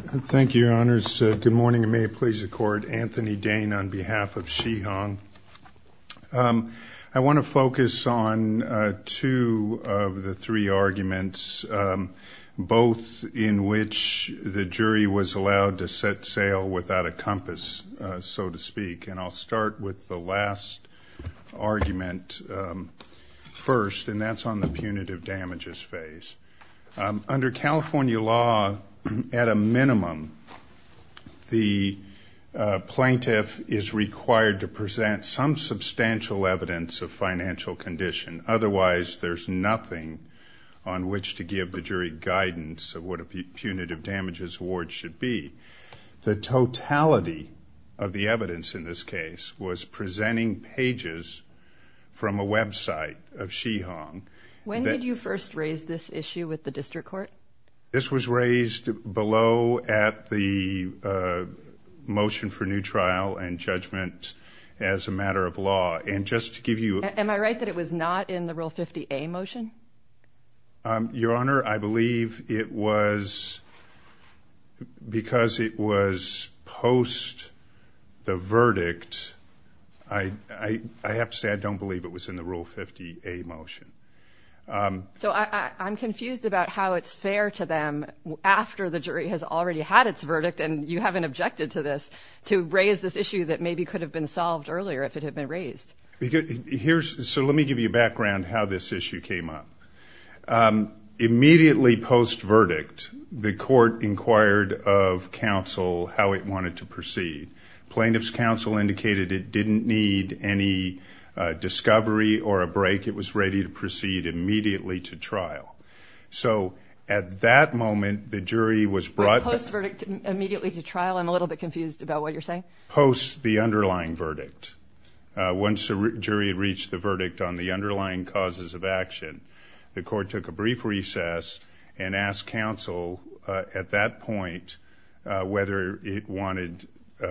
Thank you, Your Honors. Good morning, and may it please the Court. Anthony Dane on behalf of She Hong. I want to focus on two of the three arguments, both in which the jury was allowed to set sail without a compass, so to speak, and I'll start with the last argument first, and that's on the punitive damages phase. Under California law, at a minimum, the plaintiff is required to present some substantial evidence of financial condition. Otherwise, there's nothing on which to give the jury guidance of what a punitive damages award should be. The totality of the evidence in this case was presenting pages from a website of This was raised below at the motion for new trial and judgment as a matter of law, and just to give you... Am I right that it was not in the Rule 50A motion? Your Honor, I believe it was because it was post the verdict. I have to say I don't believe it was in the Rule 50A motion. So I'm confused about how it's fair to them, after the jury has already had its verdict and you haven't objected to this, to raise this issue that maybe could have been solved earlier if it had been raised. So let me give you a background how this issue came up. Immediately post verdict, the court inquired of counsel how it discovery or a break it was ready to proceed immediately to trial. So at that moment the jury was brought... Post verdict immediately to trial? I'm a little bit confused about what you're saying. Post the underlying verdict. Once the jury had reached the verdict on the underlying causes of action, the court took a brief recess and asked counsel at that point whether it wanted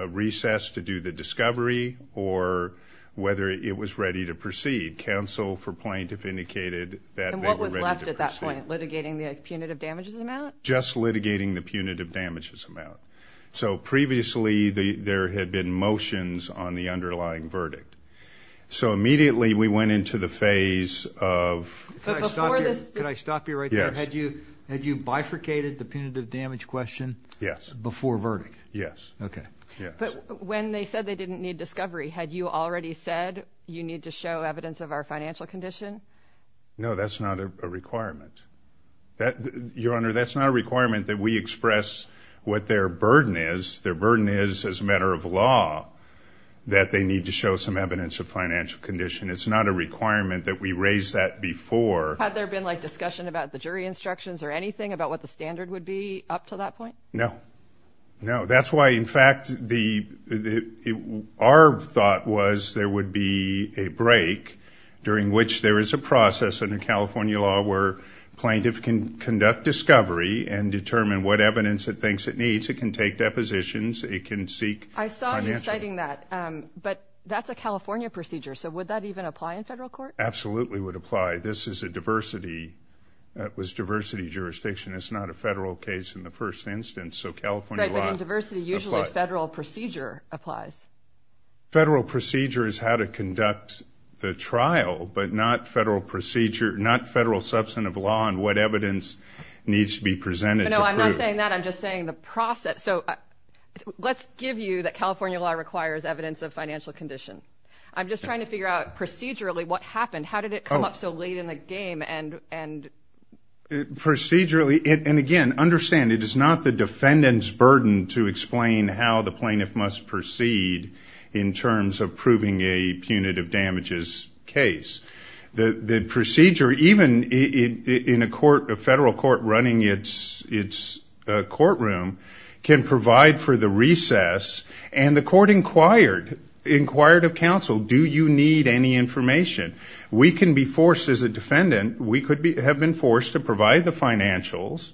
recess to do the discovery or whether it was ready to proceed. Counsel for plaintiff indicated that they were ready to proceed. And what was left at that point? Litigating the punitive damages amount? Just litigating the punitive damages amount. So previously there had been motions on the underlying verdict. So immediately we went into the phase of... Can I stop you right there? Yes. Had you bifurcated the punitive damages amount? They said they didn't need discovery. Had you already said you need to show evidence of our financial condition? No, that's not a requirement. Your Honor, that's not a requirement that we express what their burden is. Their burden is, as a matter of law, that they need to show some evidence of financial condition. It's not a requirement that we raise that before. Had there been like discussion about the jury instructions or anything about what the standard would be up to that point? No, no. That's why, in fact, our thought was there would be a break during which there is a process under California law where plaintiff can conduct discovery and determine what evidence it thinks it needs. It can take depositions. It can seek financial... I saw you citing that, but that's a California procedure. So would that even apply in federal court? Absolutely would apply. This is a diversity, it was diversity jurisdiction. It's not a federal case in the first instance. So California law... Right, but in diversity usually federal procedure applies. Federal procedure is how to conduct the trial, but not federal procedure, not federal substantive law and what evidence needs to be presented. No, I'm not saying that. I'm just saying the process. So let's give you that California law requires evidence of financial condition. I'm just trying to figure out procedurally what happened. How did it come up so late in the game and... Procedurally, and again, understand it is not the defendant's burden to explain how the plaintiff must proceed in terms of proving a punitive damages case. The procedure, even in a court, a federal court running its courtroom, can provide for the recess and the court inquired, inquired of counsel, do you need any information? We can be forced as a defendant, we could have been forced to provide the financials,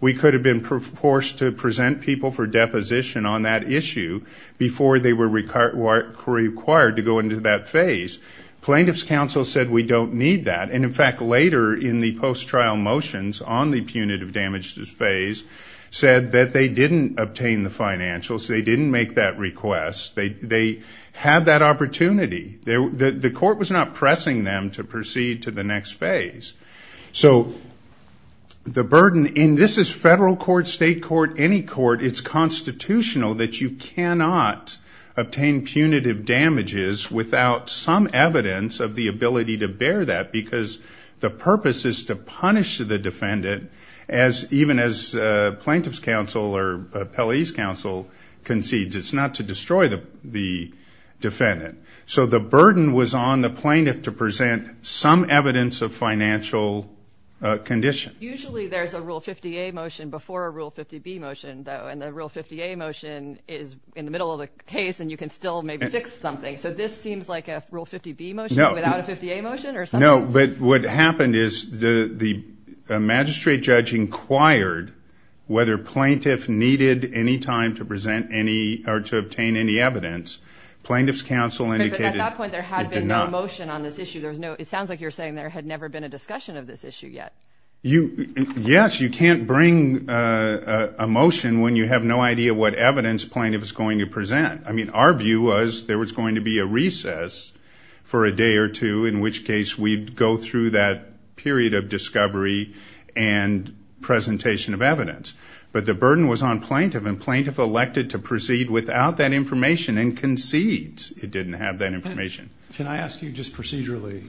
we could have been forced to present people for deposition on that issue before they were required to go into that phase. Plaintiff's counsel said we don't need that and in fact later in the post-trial motions on the punitive damages phase said that they didn't obtain the financials, they didn't make that request, they had that opportunity. The court was not pressing them to proceed to the next phase. So the burden, and this is federal court, state court, any court, it's constitutional that you cannot obtain punitive damages without some evidence of the ability to bear that because the purpose is to punish the defendant as even as plaintiff's counsel or appellee's counsel concedes, it's not to destroy the defendant. So the burden was on the plaintiff to present some evidence of financial condition. Usually there's a Rule 50A motion before a Rule 50B motion though and the Rule 50A motion is in the middle of the case and you can still maybe fix something. So this seems like a Rule 50B motion without a 50A motion? No, but what happened is the magistrate judge inquired whether plaintiff needed any time to present any or to obtain any evidence. Plaintiff's counsel indicated there had been no motion on this issue. It sounds like you're saying there had never been a discussion of this issue yet. Yes, you can't bring a motion when you have no idea what evidence plaintiff is going to present. I mean our view was there was going to be a recess for a day or two in which case we'd go through that period of discovery and presentation of evidence. But the burden was on plaintiff and plaintiff elected to proceed without that information and concedes it didn't have that information. Can I ask you just procedurally,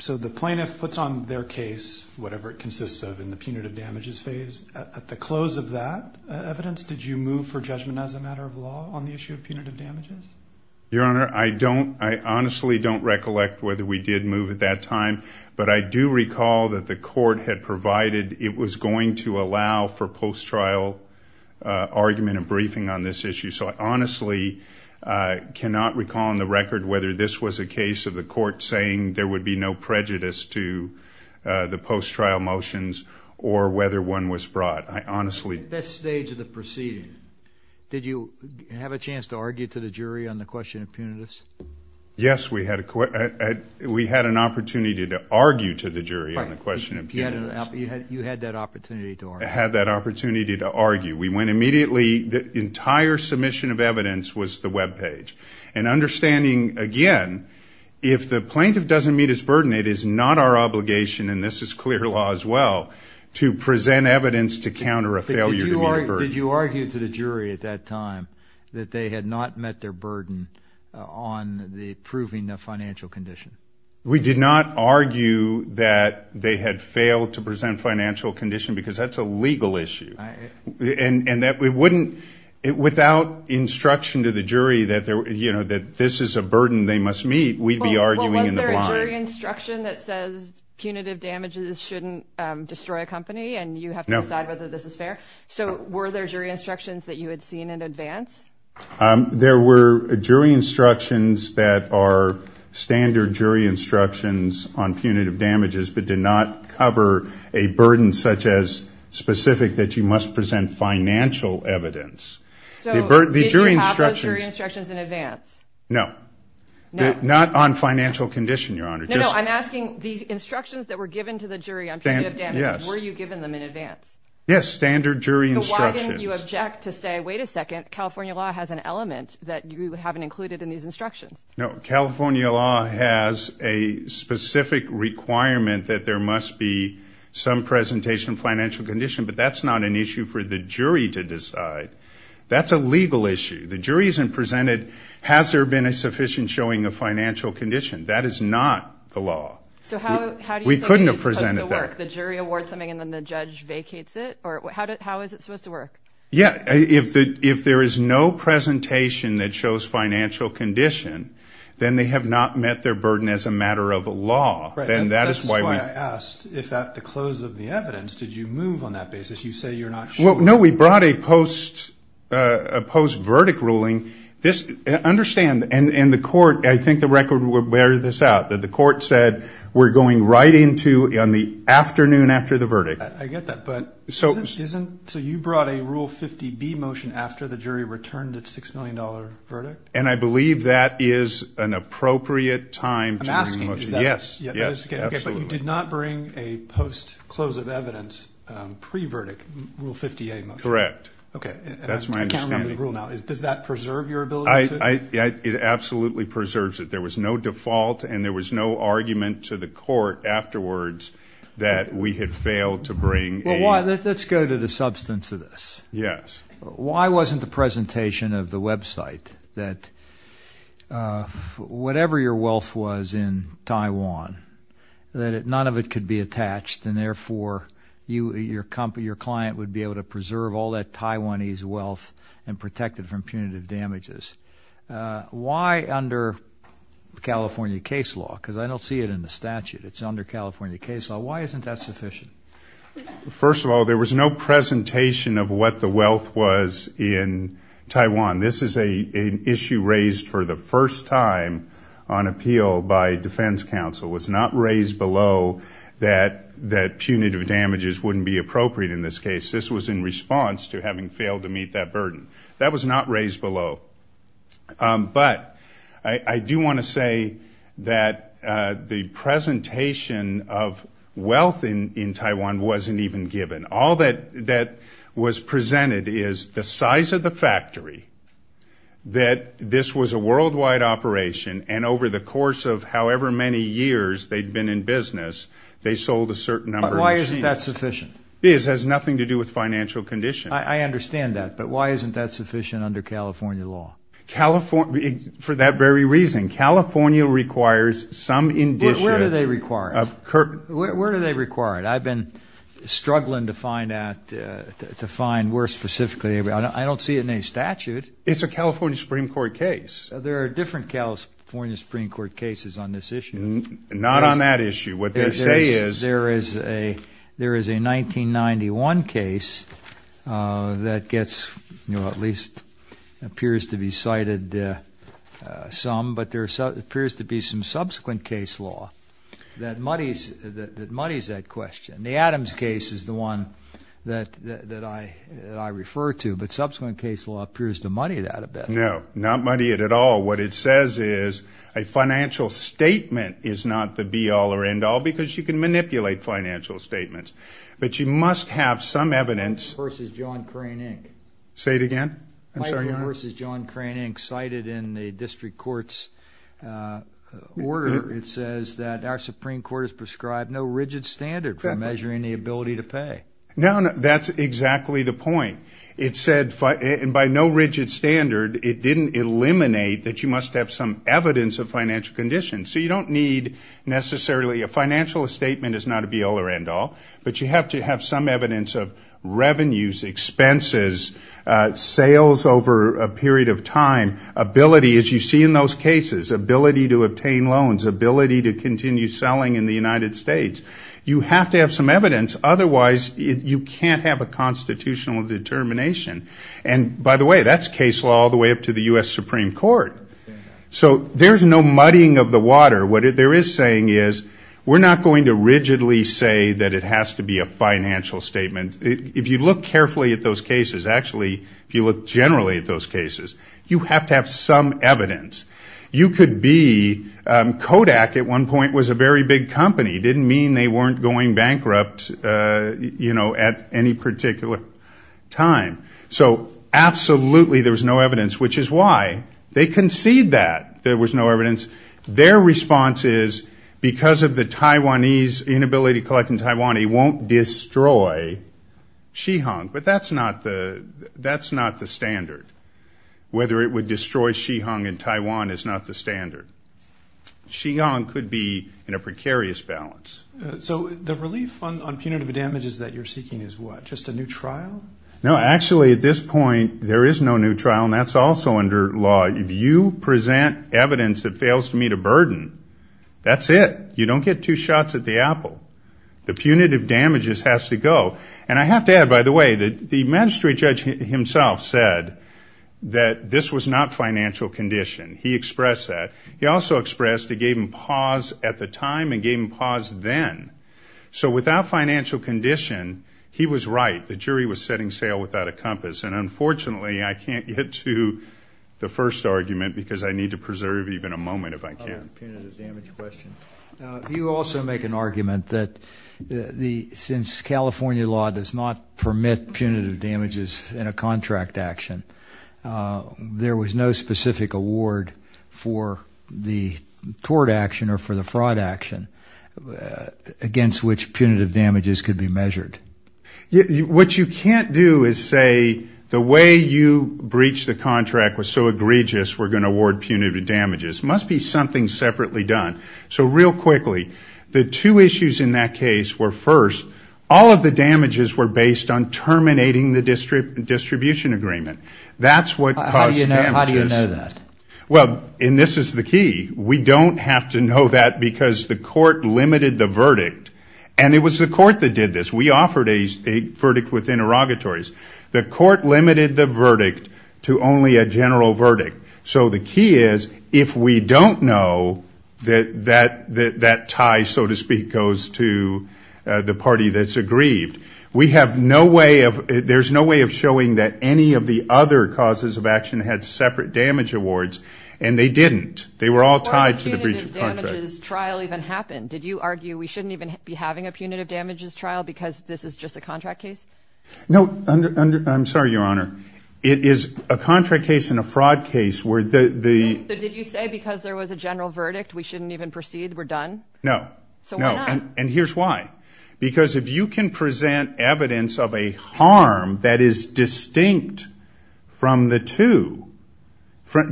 so the plaintiff puts on their case, whatever it consists of, in the punitive damages phase. At the close of that evidence, did you move for judgment as a matter of law on the issue of punitive damages? Your Honor, I honestly don't recollect whether we did move at that time, but I do recall that the court had provided it was going to allow for post-trial argument and briefing on this issue. So I honestly cannot recall on the record whether this was a case of the court saying there would be no prejudice to the post-trial motions or whether one was brought. I honestly... At this stage of the proceeding, did you have a chance to argue to the jury on the question of punitive damages? Yes, we had an opportunity to argue to the jury on the question of punitive damages. You had that opportunity to argue. We went immediately... The entire submission of evidence was the webpage. And understanding, again, if the plaintiff doesn't meet his burden, it is not our obligation, and this is clear law as well, to present evidence to counter a failure to meet a burden. Did you argue to the jury at that time that they had not met their burden on proving the financial condition? We did not argue that they had failed to present financial condition because that is a legal issue. And that we wouldn't... Without instruction to the jury that this is a burden they must meet, we would be arguing in the blind. Was there a jury instruction that says punitive damages shouldn't destroy a company and you have to decide whether this is fair? So were there jury instructions that you had seen in advance? There were jury instructions on punitive damages but did not cover a burden such as specific that you must present financial evidence. So did you have those jury instructions in advance? No. Not on financial condition, Your Honor. No, no, I'm asking the instructions that were given to the jury on punitive damages, were you given them in advance? Yes, standard jury instructions. So why didn't you object to say, wait a second, California law has an element that you haven't included in these instructions? No, California law has a specific requirement that there must be some presentation of financial condition, but that's not an issue for the jury to decide. That's a legal issue. The jury isn't presented, has there been a sufficient showing of financial condition? That is not the law. So how do you think it is supposed to work? We couldn't have presented that. The jury awards something and then the shows financial condition, then they have not met their burden as a matter of law. Right. And that is why I asked, if at the close of the evidence, did you move on that basis? You say you're not sure. No, we brought a post-verdict ruling. Understand, and the court, I think the record will bear this out, that the court said we're going right into on the afternoon after the verdict. I get that, but isn't, so you brought a Rule 50B motion after the jury returned its $6 million verdict? And I believe that is an appropriate time to bring a motion. I'm asking, is that? Yes, yes, absolutely. Okay, but you did not bring a post-close of evidence pre-verdict Rule 50A motion? Correct. Okay. That's my understanding. And I'm counting on the rule now. Does that preserve your ability to? It absolutely preserves it. There was no default and there was no argument to the court afterwards that we had First of all, there was no presentation of what the wealth was in Taiwan. This is an issue raised for the first time on appeal by defense counsel. It was not raised below that punitive damages wouldn't be appropriate in this case. This was in response to having failed to meet that burden. That was not raised below. But I do want to say that the presentation of wealth in Taiwan wasn't even given. All that was presented is the size of the factory, that this was a worldwide operation, and over the course of however many years they'd been in business, they sold a certain number of machines. But why isn't that sufficient? It has nothing to do with financial conditions. I understand that, but why isn't that sufficient under California law? For that very reason. California requires some indicia. Where do they require it? Where do they require it? I've been struggling to find where specifically. I don't see it in any statute. It's a California Supreme Court case. There are different California Supreme Court cases on this issue. Not on that issue. What they say is... There is a 1991 case that gets, at least appears to be cited some, but there appears to be some subsequent case law that muddies that question. The Adams case is the one that I refer to, but subsequent case law appears to muddy that a bit. No, not muddy it at all. What it says is a financial statement is not the be-all or end-all, because you can manipulate financial statements. But you must have some evidence... Michael v. John Crane, Inc. Say it again? I'm sorry, Your Honor. Michael v. John Crane, Inc. cited in the district court's order, it says that our Supreme Court has prescribed no rigid standard for measuring the ability to pay. No, that's exactly the point. It said by no rigid standard, it didn't eliminate that you must have some evidence of financial conditions. So you don't need necessarily... A financial statement is not a be-all or end-all, but you have to have some evidence of revenues, expenses, sales over a period of time, ability as you see in those cases, ability to obtain loans, ability to continue selling in the United States. You have to have some evidence, otherwise you can't have a constitutional determination. And by the way, that's case law all the way up to the U.S. Supreme Court. So there's no muddying of the water. What there is saying is we're not going to rigidly say that it has to be a financial statement. If you look carefully at those cases, actually if you look generally at those cases, you have to have some evidence. You could be... Bank at one point was a very big company, didn't mean they weren't going bankrupt at any particular time. So absolutely there was no evidence, which is why they concede that there was no evidence. Their response is because of the Taiwanese inability to collect in Taiwan, he won't destroy Shihung. But that's not the standard. Whether it would destroy Shihung in Taiwan is not the standard. Shihung could be in a precarious balance. So the relief on punitive damages that you're seeking is what? Just a new trial? No, actually at this point there is no new trial and that's also under law. If you present evidence that fails to meet a burden, that's it. You don't get two shots at the apple. The punitive damages has to go. And I have to add, by the way, the magistrate judge himself said that this was not financial condition. He expressed that. He also expressed he gave him pause at the time and gave him pause then. So without financial condition, he was right. The jury was setting sail without a compass. And unfortunately I can't get to the first argument because I need to preserve even a moment if I can. Punitive damage question. You also make an argument that since California law does not award action, there was no specific award for the tort action or for the fraud action against which punitive damages could be measured. What you can't do is say the way you breached the contract was so egregious we're going to award punitive damages. It must be something separately done. So real quickly, the two issues in that case were first, all of the damages were based on terminating the distribution agreement. That's what caused damages. How do you know that? Well, and this is the key, we don't have to know that because the court limited the verdict. And it was the court that did this. We offered a verdict with interrogatories. The court limited the verdict to only a general verdict. So the key is if we don't know that that tie so to speak goes to the party that's aggrieved, we have no way of there's no way of showing that any of the other causes of action had separate damage awards. And they didn't. They were all tied to the breach of contract. Before the punitive damages trial even happened, did you argue we shouldn't even be having a punitive damages trial because this is just a contract case? No, I'm sorry, Your Honor. It is a contract case and a fraud case where the... So did you say because there was a general verdict we shouldn't even proceed? We're done? No. So why not? And here's why. Because if you can present evidence of a harm that is distinct from the two,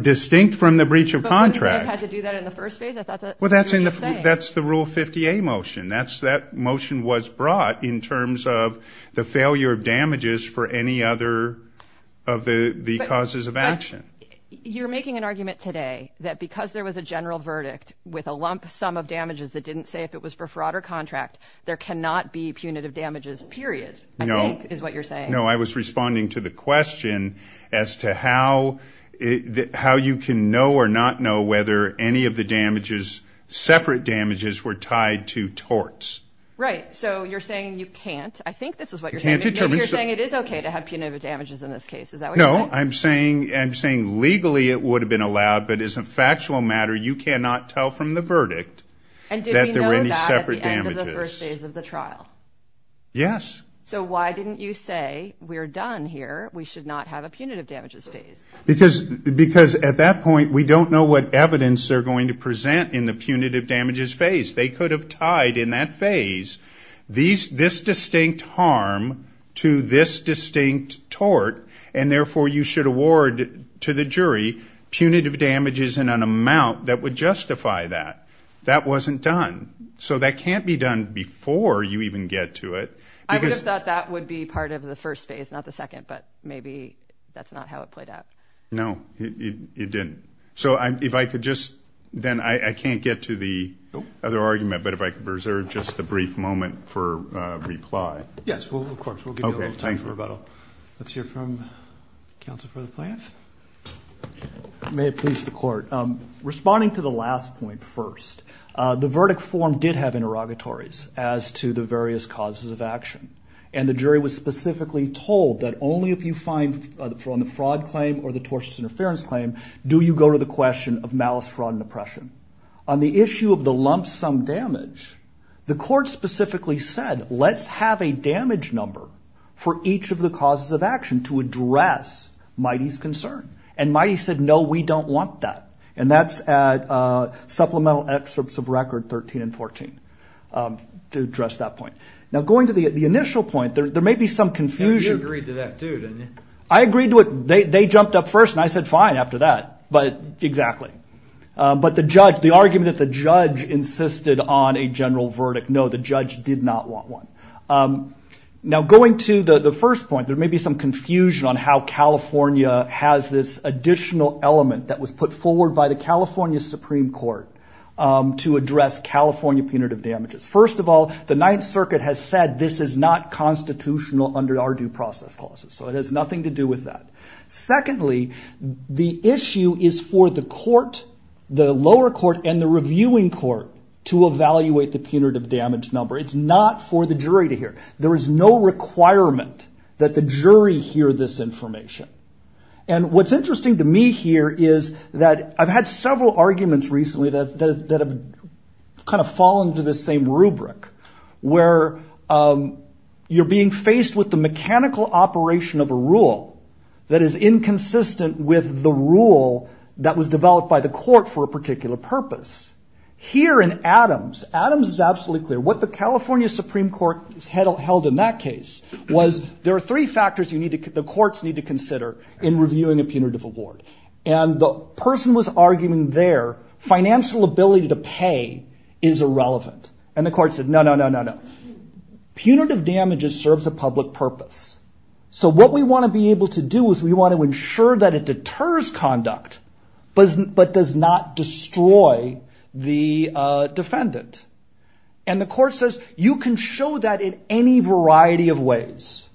distinct from the breach of contract... But wouldn't you have had to do that in the first phase? I thought that's what you were just saying. That's the Rule 50A motion. That motion was brought in terms of the failure of damages for any other of the causes of action. You're making an argument today that because there was a general verdict with a lump sum of damages that didn't say if it was for fraud or contract, there cannot be punitive damages, period, I think is what you're saying. No, I was responding to the question as to how you can know or not know whether any of the damages, separate damages, were tied to torts. Right. So you're saying you can't. I think this is what you're saying. You can't determine... Maybe you're saying it is okay to have punitive damages in this case. Is that what you're saying? No. I'm saying legally it would have been allowed, but as a factual matter, you cannot tell from the verdict that there were any separate damages. And did we know that at the end of the first phase of the trial? Yes. So why didn't you say, we're done here, we should not have a punitive damages phase? Because at that point, we don't know what evidence they're going to present in the punitive damages phase. They could have tied in that phase this distinct harm to this distinct tort, and therefore you should award to the jury punitive damages in an amount that would justify that. That wasn't done. So that can't be done before you even get to it. I would have thought that would be part of the first phase, not the second, but maybe that's not how it played out. No, it didn't. So if I could just... Then I can't get to the other argument, but if I could reserve just the brief moment for reply. Yes, of course. We'll give you a little time for rebuttal. Let's hear from counsel for the plaintiff. May it please the court. Responding to the last point first, the verdict form did have interrogatories as to the various causes of action, and the jury was specifically told that only if you find, from the fraud claim or the tortious interference claim, do you go to the question of malice, fraud, and oppression. On the issue of the lump sum damage, the court specifically said, let's have a damage number for each of the causes of action to address Mighty's concern. And Mighty said, no, we don't want that. And that's at Supplemental Excerpts of Record 13 and 14 to address that point. Now going to the initial point, there may be some confusion. Yeah, you agreed to that too, didn't you? I agreed to it. They jumped up first, and I said, fine, after that. But exactly. But the judge, the argument that the judge insisted on a general verdict, no, the judge did not want one. Now going to the first point, there may be some confusion on how California has this additional element that was put forward by the California Supreme Court to address California punitive damages. First of all, the Ninth Circuit has said this is not constitutional under our due process clauses. So it has nothing to do with that. Secondly, the issue is for the court, the lower court and the reviewing court, to evaluate the punitive damage number. It's not for the jury to hear. There is no requirement that the jury hear this information. And what's interesting to me here is that I've had several arguments recently that have kind of fallen to the same rubric, where you're being faced with the mechanical operation of a rule that is inconsistent with the rule that was developed by the court for a particular purpose. Here in Adams, Adams is absolutely clear. What the California Supreme Court held in that case was there are three factors the courts need to consider in reviewing a punitive award. And the person was arguing there, financial ability to pay is irrelevant. And the court said, no, no, no, no, no. Punitive damages serves a public purpose. So what we want to be able to do is we want to ensure that it does not destroy the defendant. And the court says, you can show that in any variety of ways.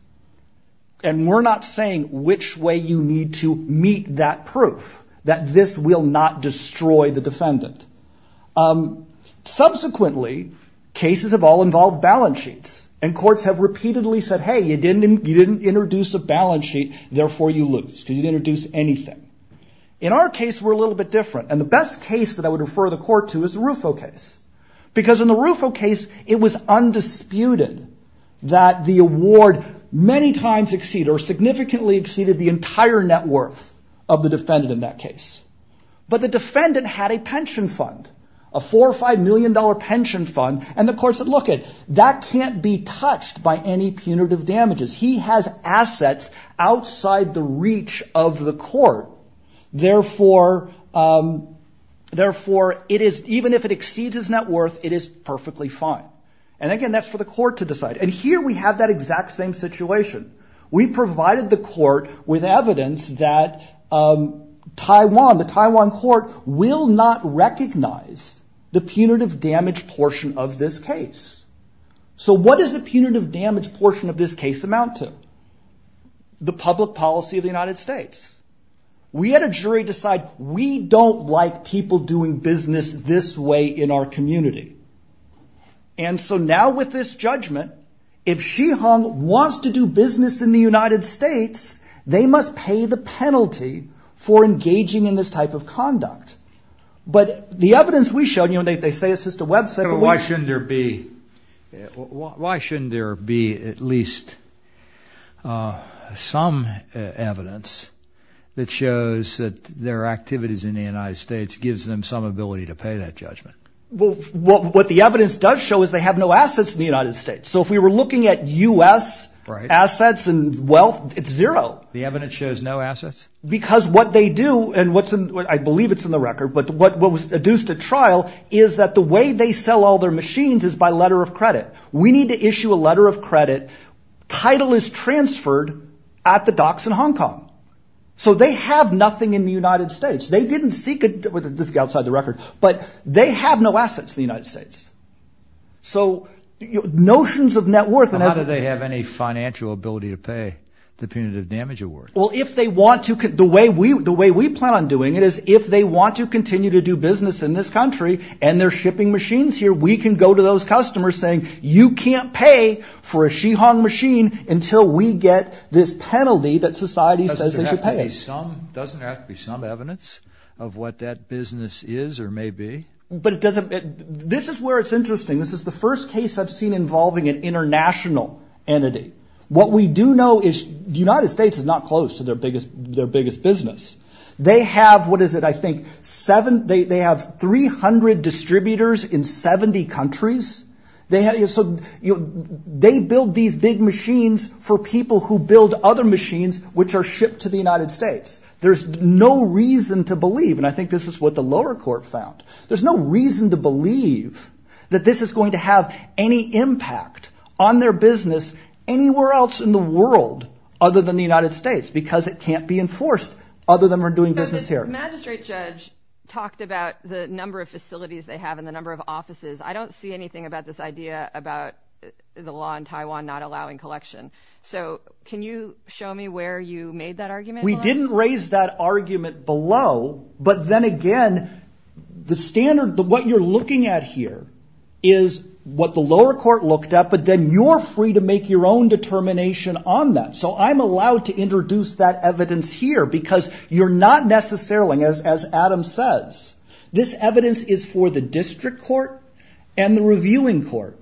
And we're not saying which way you need to meet that proof, that this will not destroy the defendant. Subsequently, cases have all involved balance sheets. And courts have repeatedly said, hey, you didn't introduce a balance sheet, therefore you lose, because you didn't make it a little bit different. And the best case that I would refer the court to is the Rufo case. Because in the Rufo case, it was undisputed that the award many times exceeded or significantly exceeded the entire net worth of the defendant in that case. But the defendant had a pension fund, a $4 or $5 million pension fund. And the court said, look, that can't be touched by any punitive damages. He has assets outside the reach of the court, therefore it is, even if it exceeds his net worth, it is perfectly fine. And again, that's for the court to decide. And here we have that exact same situation. We provided the court with evidence that Taiwan, the Taiwan court, will not recognize the punitive damage portion of this case. So what does the punitive damage portion of this case amount to? The public policy of the United States. We had a jury decide, we don't like people doing business this way in our community. And so now with this judgment, if Xi Hong wants to do business in the United States, they must pay the penalty for engaging in this type of conduct. But the evidence we showed, you know, they say it's just a website, but why shouldn't there be, why shouldn't there be at least some evidence that shows that their activities in the United States gives them some ability to pay that judgment? Well, what the evidence does show is they have no assets in the United States. So if we were looking at U.S. assets and wealth, it's zero. The evidence shows no assets? Because what they do and what's in, I believe it's in the record, but what was deduced at trial is that the way they sell all their machines is by letter of credit. We need to issue a letter of credit. Title is transferred at the docks in Hong Kong. So they have nothing in the United States. They didn't seek it with a disc outside the record, but they have no assets in the United States. So notions of net worth and how do they have any financial ability to pay the punitive damage award? Well, if they want to, the way we, the way we plan on doing it is if they want to continue to do business in this country and they're shipping machines here, we can go to those customers saying you can't pay for a Shihong machine until we get this penalty that society says they should pay. Doesn't there have to be some evidence of what that business is or may be? But it doesn't, this is where it's interesting. This is the first case I've seen involving an international entity. What we do know is the United States is not close to their biggest, their biggest business. They have, what is it? I think seven, they have 300 distributors in 70 countries. They have, so they build these big machines for people who build other machines which are shipped to the United States. There's no reason to believe, and I think this is what the lower court found. There's no reason to believe that this is going to have any impact on their business anywhere else in the world other than the United States because it can't be enforced other than we're doing business here. The magistrate judge talked about the number of facilities they have and the number of offices. I don't see anything about this idea about the law in Taiwan not allowing collection. So can you show me where you made that argument? We didn't raise that argument below, but then again, the standard, what you're looking at here is what the lower court looked at, but then you're free to make your own determination on that. So I'm allowed to introduce that evidence here because you're not necessarily, as Adam says, this evidence is for the district court and the reviewing court.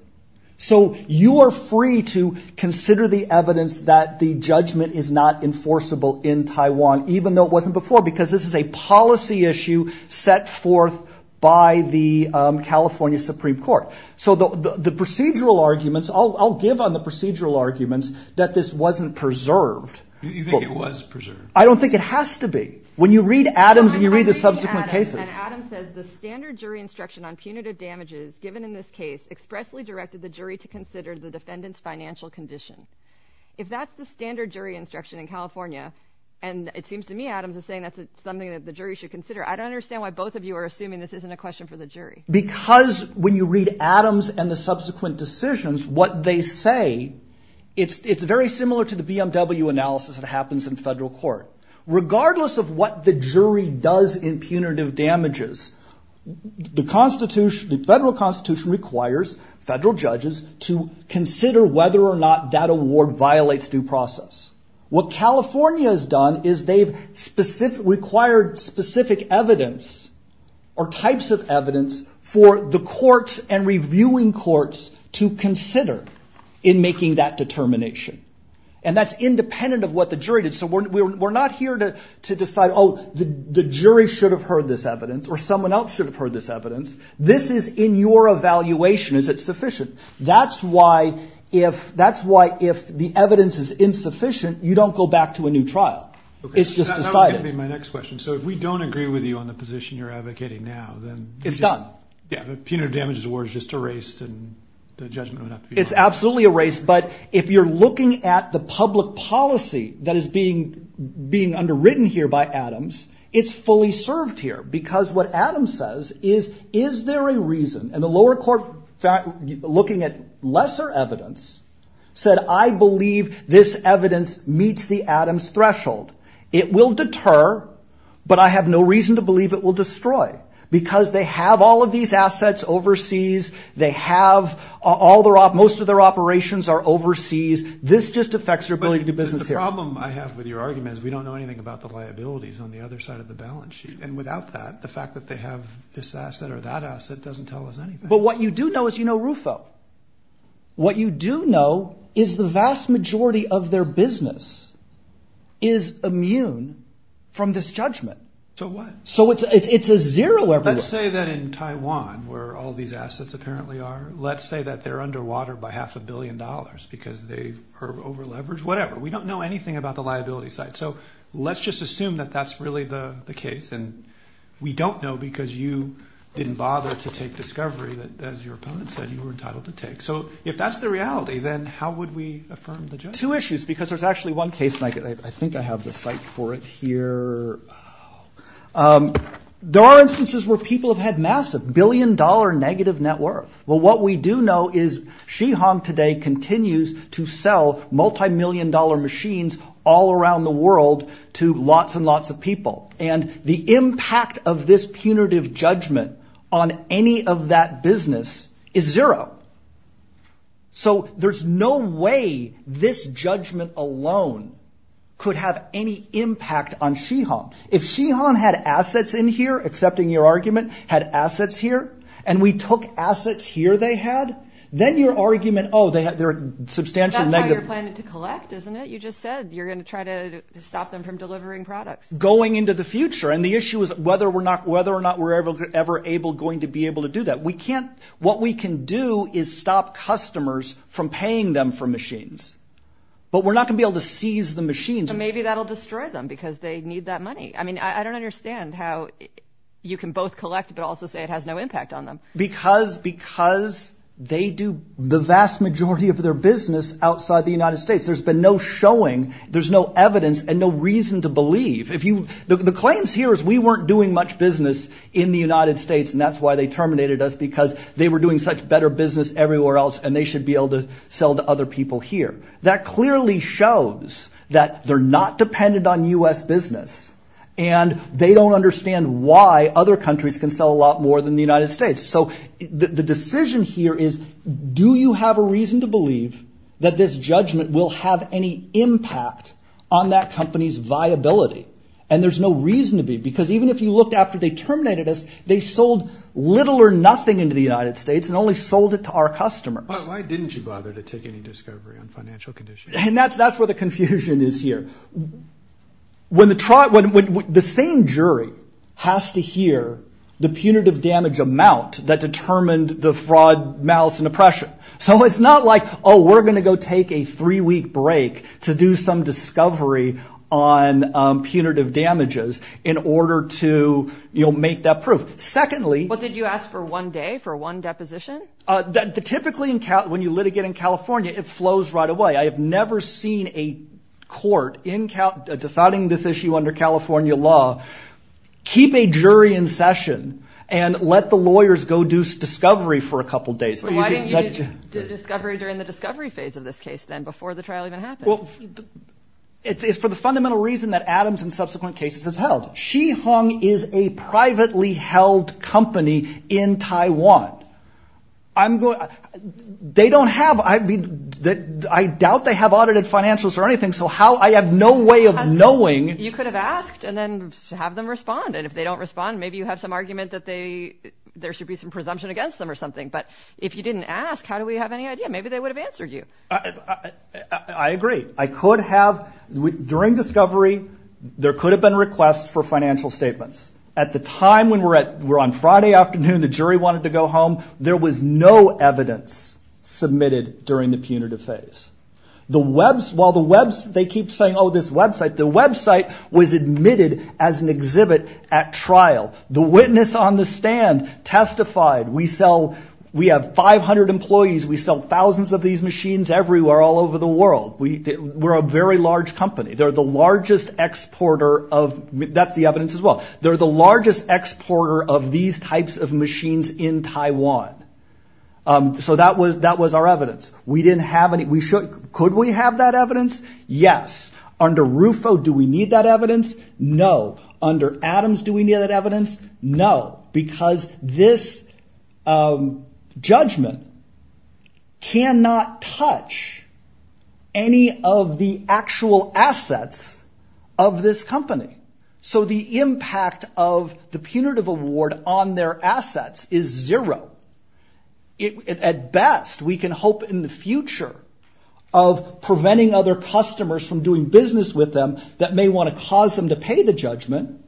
So you are free to consider the evidence that the judgment is not enforceable in Taiwan, even though it wasn't before, because this is a policy issue set forth by the California Supreme Court. So the procedural arguments, I'll give on the procedural arguments that this wasn't preserved. You think it was preserved? I don't think it has to be. When you read Adams and you read the subsequent cases. Adam says the standard jury instruction on punitive damages given in this case expressly directed the jury to consider the defendant's financial condition. If that's the standard jury instruction in California, and it seems to me Adams is saying that's something that the jury should consider. I don't understand why both of you are assuming this isn't a question for the jury. Because when you read Adams and the subsequent decisions, what they say, it's very similar to the BMW analysis that happens in federal court. Regardless of what the jury does in punitive damages, the federal constitution requires federal judges to consider whether or not that award violates due process. What California has done is they've required specific evidence or types of evidence for the courts and reviewing courts to consider in making that determination. And that's independent of what the jury did. So we're not here to decide, oh, the jury should have heard this evidence, or someone else should have heard this evidence. This is in your evaluation. Is it sufficient? That's why if the evidence is insufficient, you don't go back to a new trial. It's just decided. That was going to be my next question. So if we don't agree with you on the position you're advocating now, then the punitive damages award is just erased and the judgment would have to be... It's absolutely erased. But if you're looking at the public policy that is being underwritten here by Adams, it's fully served here. Because what Adams says is, is there a reason? And the lower court, looking at lesser evidence, said, I believe this evidence meets the Adams threshold. It will deter, but I have no reason to believe it will destroy. Because they have all of these assets overseas. They have... Most of their operations are overseas. This just affects their ability to do business here. The problem I have with your argument is we don't know anything about the liabilities on the other side of the balance sheet. And without that, the fact that they have this asset or that asset doesn't tell us anything. But what you do know is you know Rufo. What you do know is the vast majority of their business is immune from this judgment. So what? So it's a zero everywhere. Let's say that in Taiwan, where all these assets apparently are, let's say that they're underwater by half a billion dollars because they're over leveraged. Whatever. We don't know anything about the liability side. So let's just assume that that's really the case. And we don't know because you didn't bother to take discovery that, as your opponent said, you were entitled to take. So if that's the reality, then how would we affirm the judgment? Two issues, because there's actually one case, and I think I have the site for it here. There are instances where people have had massive billion dollar negative net worth. Well, what we do know is Shi Hong today continues to sell multimillion dollar machines all around the world to lots and lots of people. And the impact of this punitive judgment on any of that business is zero. So there's no way this judgment alone could have any impact on Shi Hong. If Shi Hong had assets in here, accepting your argument, had assets here, and we took assets here they had, then your argument, oh, they're substantial negative. That's how you're planning to collect, isn't it? You just said you're going to try to stop them from delivering products. Going into the future. And the issue is whether or not we're ever going to be able to do that. What we can do is stop customers from paying them for machines. But we're not going to be able to seize the machines. Maybe that'll destroy them because they need that money. I mean, I don't understand how you can both collect, but also say it has no impact on them. Because they do the vast majority of their business outside the United States. There's been no showing. There's no evidence and no reason to believe. The claims here is we weren't doing much business in the United States and that's why they terminated us because they were doing such better business everywhere else and they should be able to sell to other people here. That clearly shows that they're not dependent on U.S. business and they don't understand why other countries can sell a lot more than the United States. So the decision here is do you have a reason to believe that this judgment will have any impact on that company's viability? And there's no reason to be because even if you looked after they terminated us, they sold little or nothing into the United States and only sold it to our customers. But why didn't you bother to take any discovery on financial conditions? And that's where the confusion is here. When the same jury has to hear the punitive damage amount that determined the fraud, malice and oppression. So it's not like, oh, we're going to go take a three week break to do some discovery on punitive damages in order to make that proof. Secondly. What did you ask for one day for one deposition? Typically when you litigate in California, it flows right away. I have never seen a court in deciding this issue under California law, keep a jury in session and let the lawyers go do discovery for a couple of days. So why didn't you do discovery during the discovery phase of this case then before the trial even happened? Well, it's for the fundamental reason that Adams and subsequent cases have held. Xihong is a privately held company in Taiwan. I'm going. They don't have I mean, I doubt they have audited financials or anything. So how I have no way of knowing. You could have asked and then have them respond. And if they don't respond, maybe you have some argument that they there should be some presumption against them or something. But if you didn't ask, how do we have any idea? Maybe they would have answered you. I agree. I could have during discovery. There could have been requests for financial statements at the time when we're at we're on Friday afternoon, the jury wanted to go home. There was no evidence submitted during the punitive phase. The Web's while the Web's they keep saying, oh, this website, the website was admitted as an exhibit at trial. The witness on the stand testified. We sell we have 500 employees. We sell thousands of these machines everywhere all over the world. We were a very large company. They're the largest exporter of that's the evidence as well. They're the largest exporter of these types of machines in Taiwan. So that was that was our evidence. We didn't have any. We should. Could we have that evidence? Yes. Under Rufo, do we need that evidence? No. Under Adams, do we need that evidence? No, because this judgment cannot touch any of the actual assets of this company. So the impact of the punitive award on their assets is zero. At best, we can hope in the future of preventing other customers from doing business with them that may want to cause them to pay the judgment.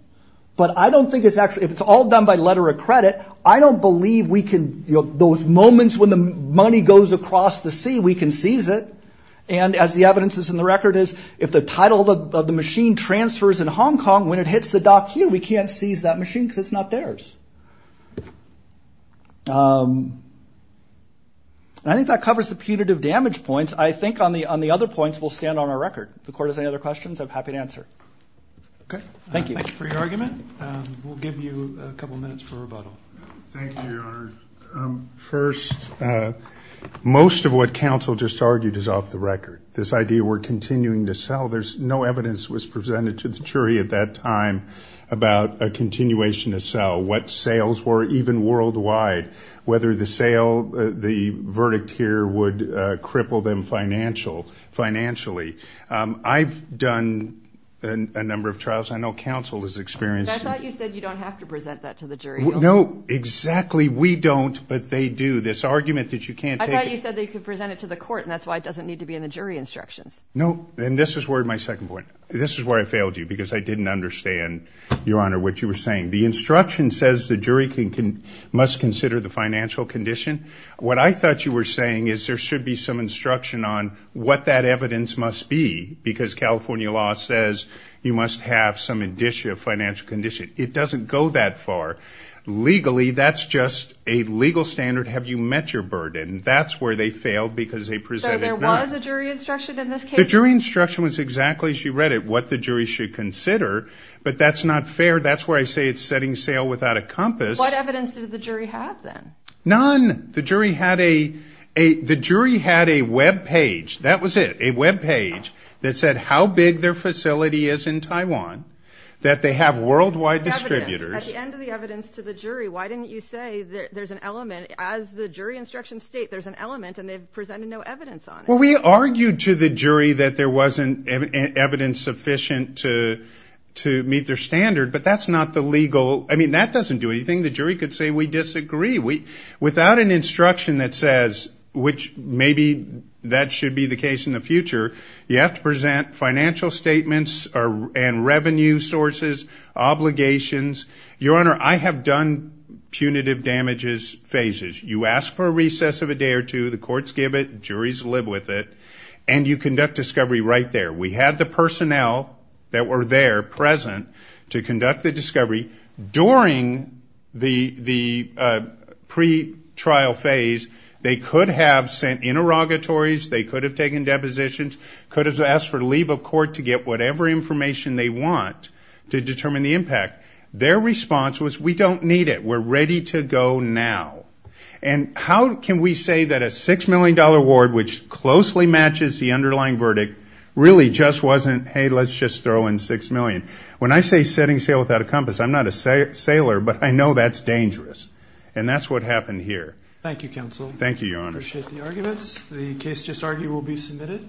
But I don't think it's actually if it's all done by letter of credit, I don't believe we can those moments when the money goes across the sea, we can seize it. And as the evidence is in the record is if the title of the machine transfers in Hong Kong, when it hits the dock here, we can't seize that machine because it's not theirs. I think that covers the punitive damage points, I think on the on the other points will stand on our record. The court has any other questions I'm happy to answer. OK, thank you for your argument. We'll give you a couple of minutes for rebuttal. Thank you, Your Honor. First, most of what counsel just argued is off the record, this idea we're continuing to sell. There's no evidence was presented to the jury at that time about a continuation to sell what sales were even worldwide, whether the sale, the verdict here would cripple them financial financially. I've done a number of trials. I know counsel has experienced. I thought you said you don't have to present that to the jury. No, exactly. We don't. But they do this argument that you can't say you said they could present it to the court. And that's why it doesn't need to be in the jury instructions. No. And this is where my second point. This is where I failed you because I didn't understand, Your Honor, what you were saying. The instruction says the jury can can must consider the financial condition. What I thought you were saying is there should be some instruction on what that evidence must be, because California law says you must have some indicia of financial condition. It doesn't go that far. Legally, that's just a legal standard. Have you met your burden? That's where they failed because they presented there was a jury instruction. In this case, the jury instruction was exactly as you read it, what the jury should consider. But that's not fair. That's where I say it's setting sail without a compass. What evidence did the jury have then? None. The jury had a a the jury had a Web page. That was it. A Web page that said how big their facility is in Taiwan, that they have distributors. At the end of the evidence to the jury, why didn't you say that there's an element as the jury instruction state, there's an element and they've presented no evidence on it. Well, we argued to the jury that there wasn't evidence sufficient to to meet their standard. But that's not the legal. I mean, that doesn't do anything. The jury could say we disagree. We without an instruction that says which maybe that should be the case in the future. You have to present financial statements and revenue sources, obligations. Your Honor, I have done punitive damages phases. You ask for a recess of a day or two. The courts give it. Juries live with it. And you conduct discovery right there. We had the personnel that were there present to conduct the discovery during the the pretrial phase. They could have sent interrogatories. They could have taken depositions, could have asked for leave of court to get whatever information they want to determine the impact. Their response was we don't need it. We're ready to go now. And how can we say that a six million dollar award, which closely matches the underlying verdict, really just wasn't, hey, let's just throw in six million. When I say setting sail without a compass, I'm not a sailor, but I know that's dangerous. And that's what happened here. Thank you, counsel. Thank you, Your Honor. Appreciate the arguments. The case just argued will be submitted.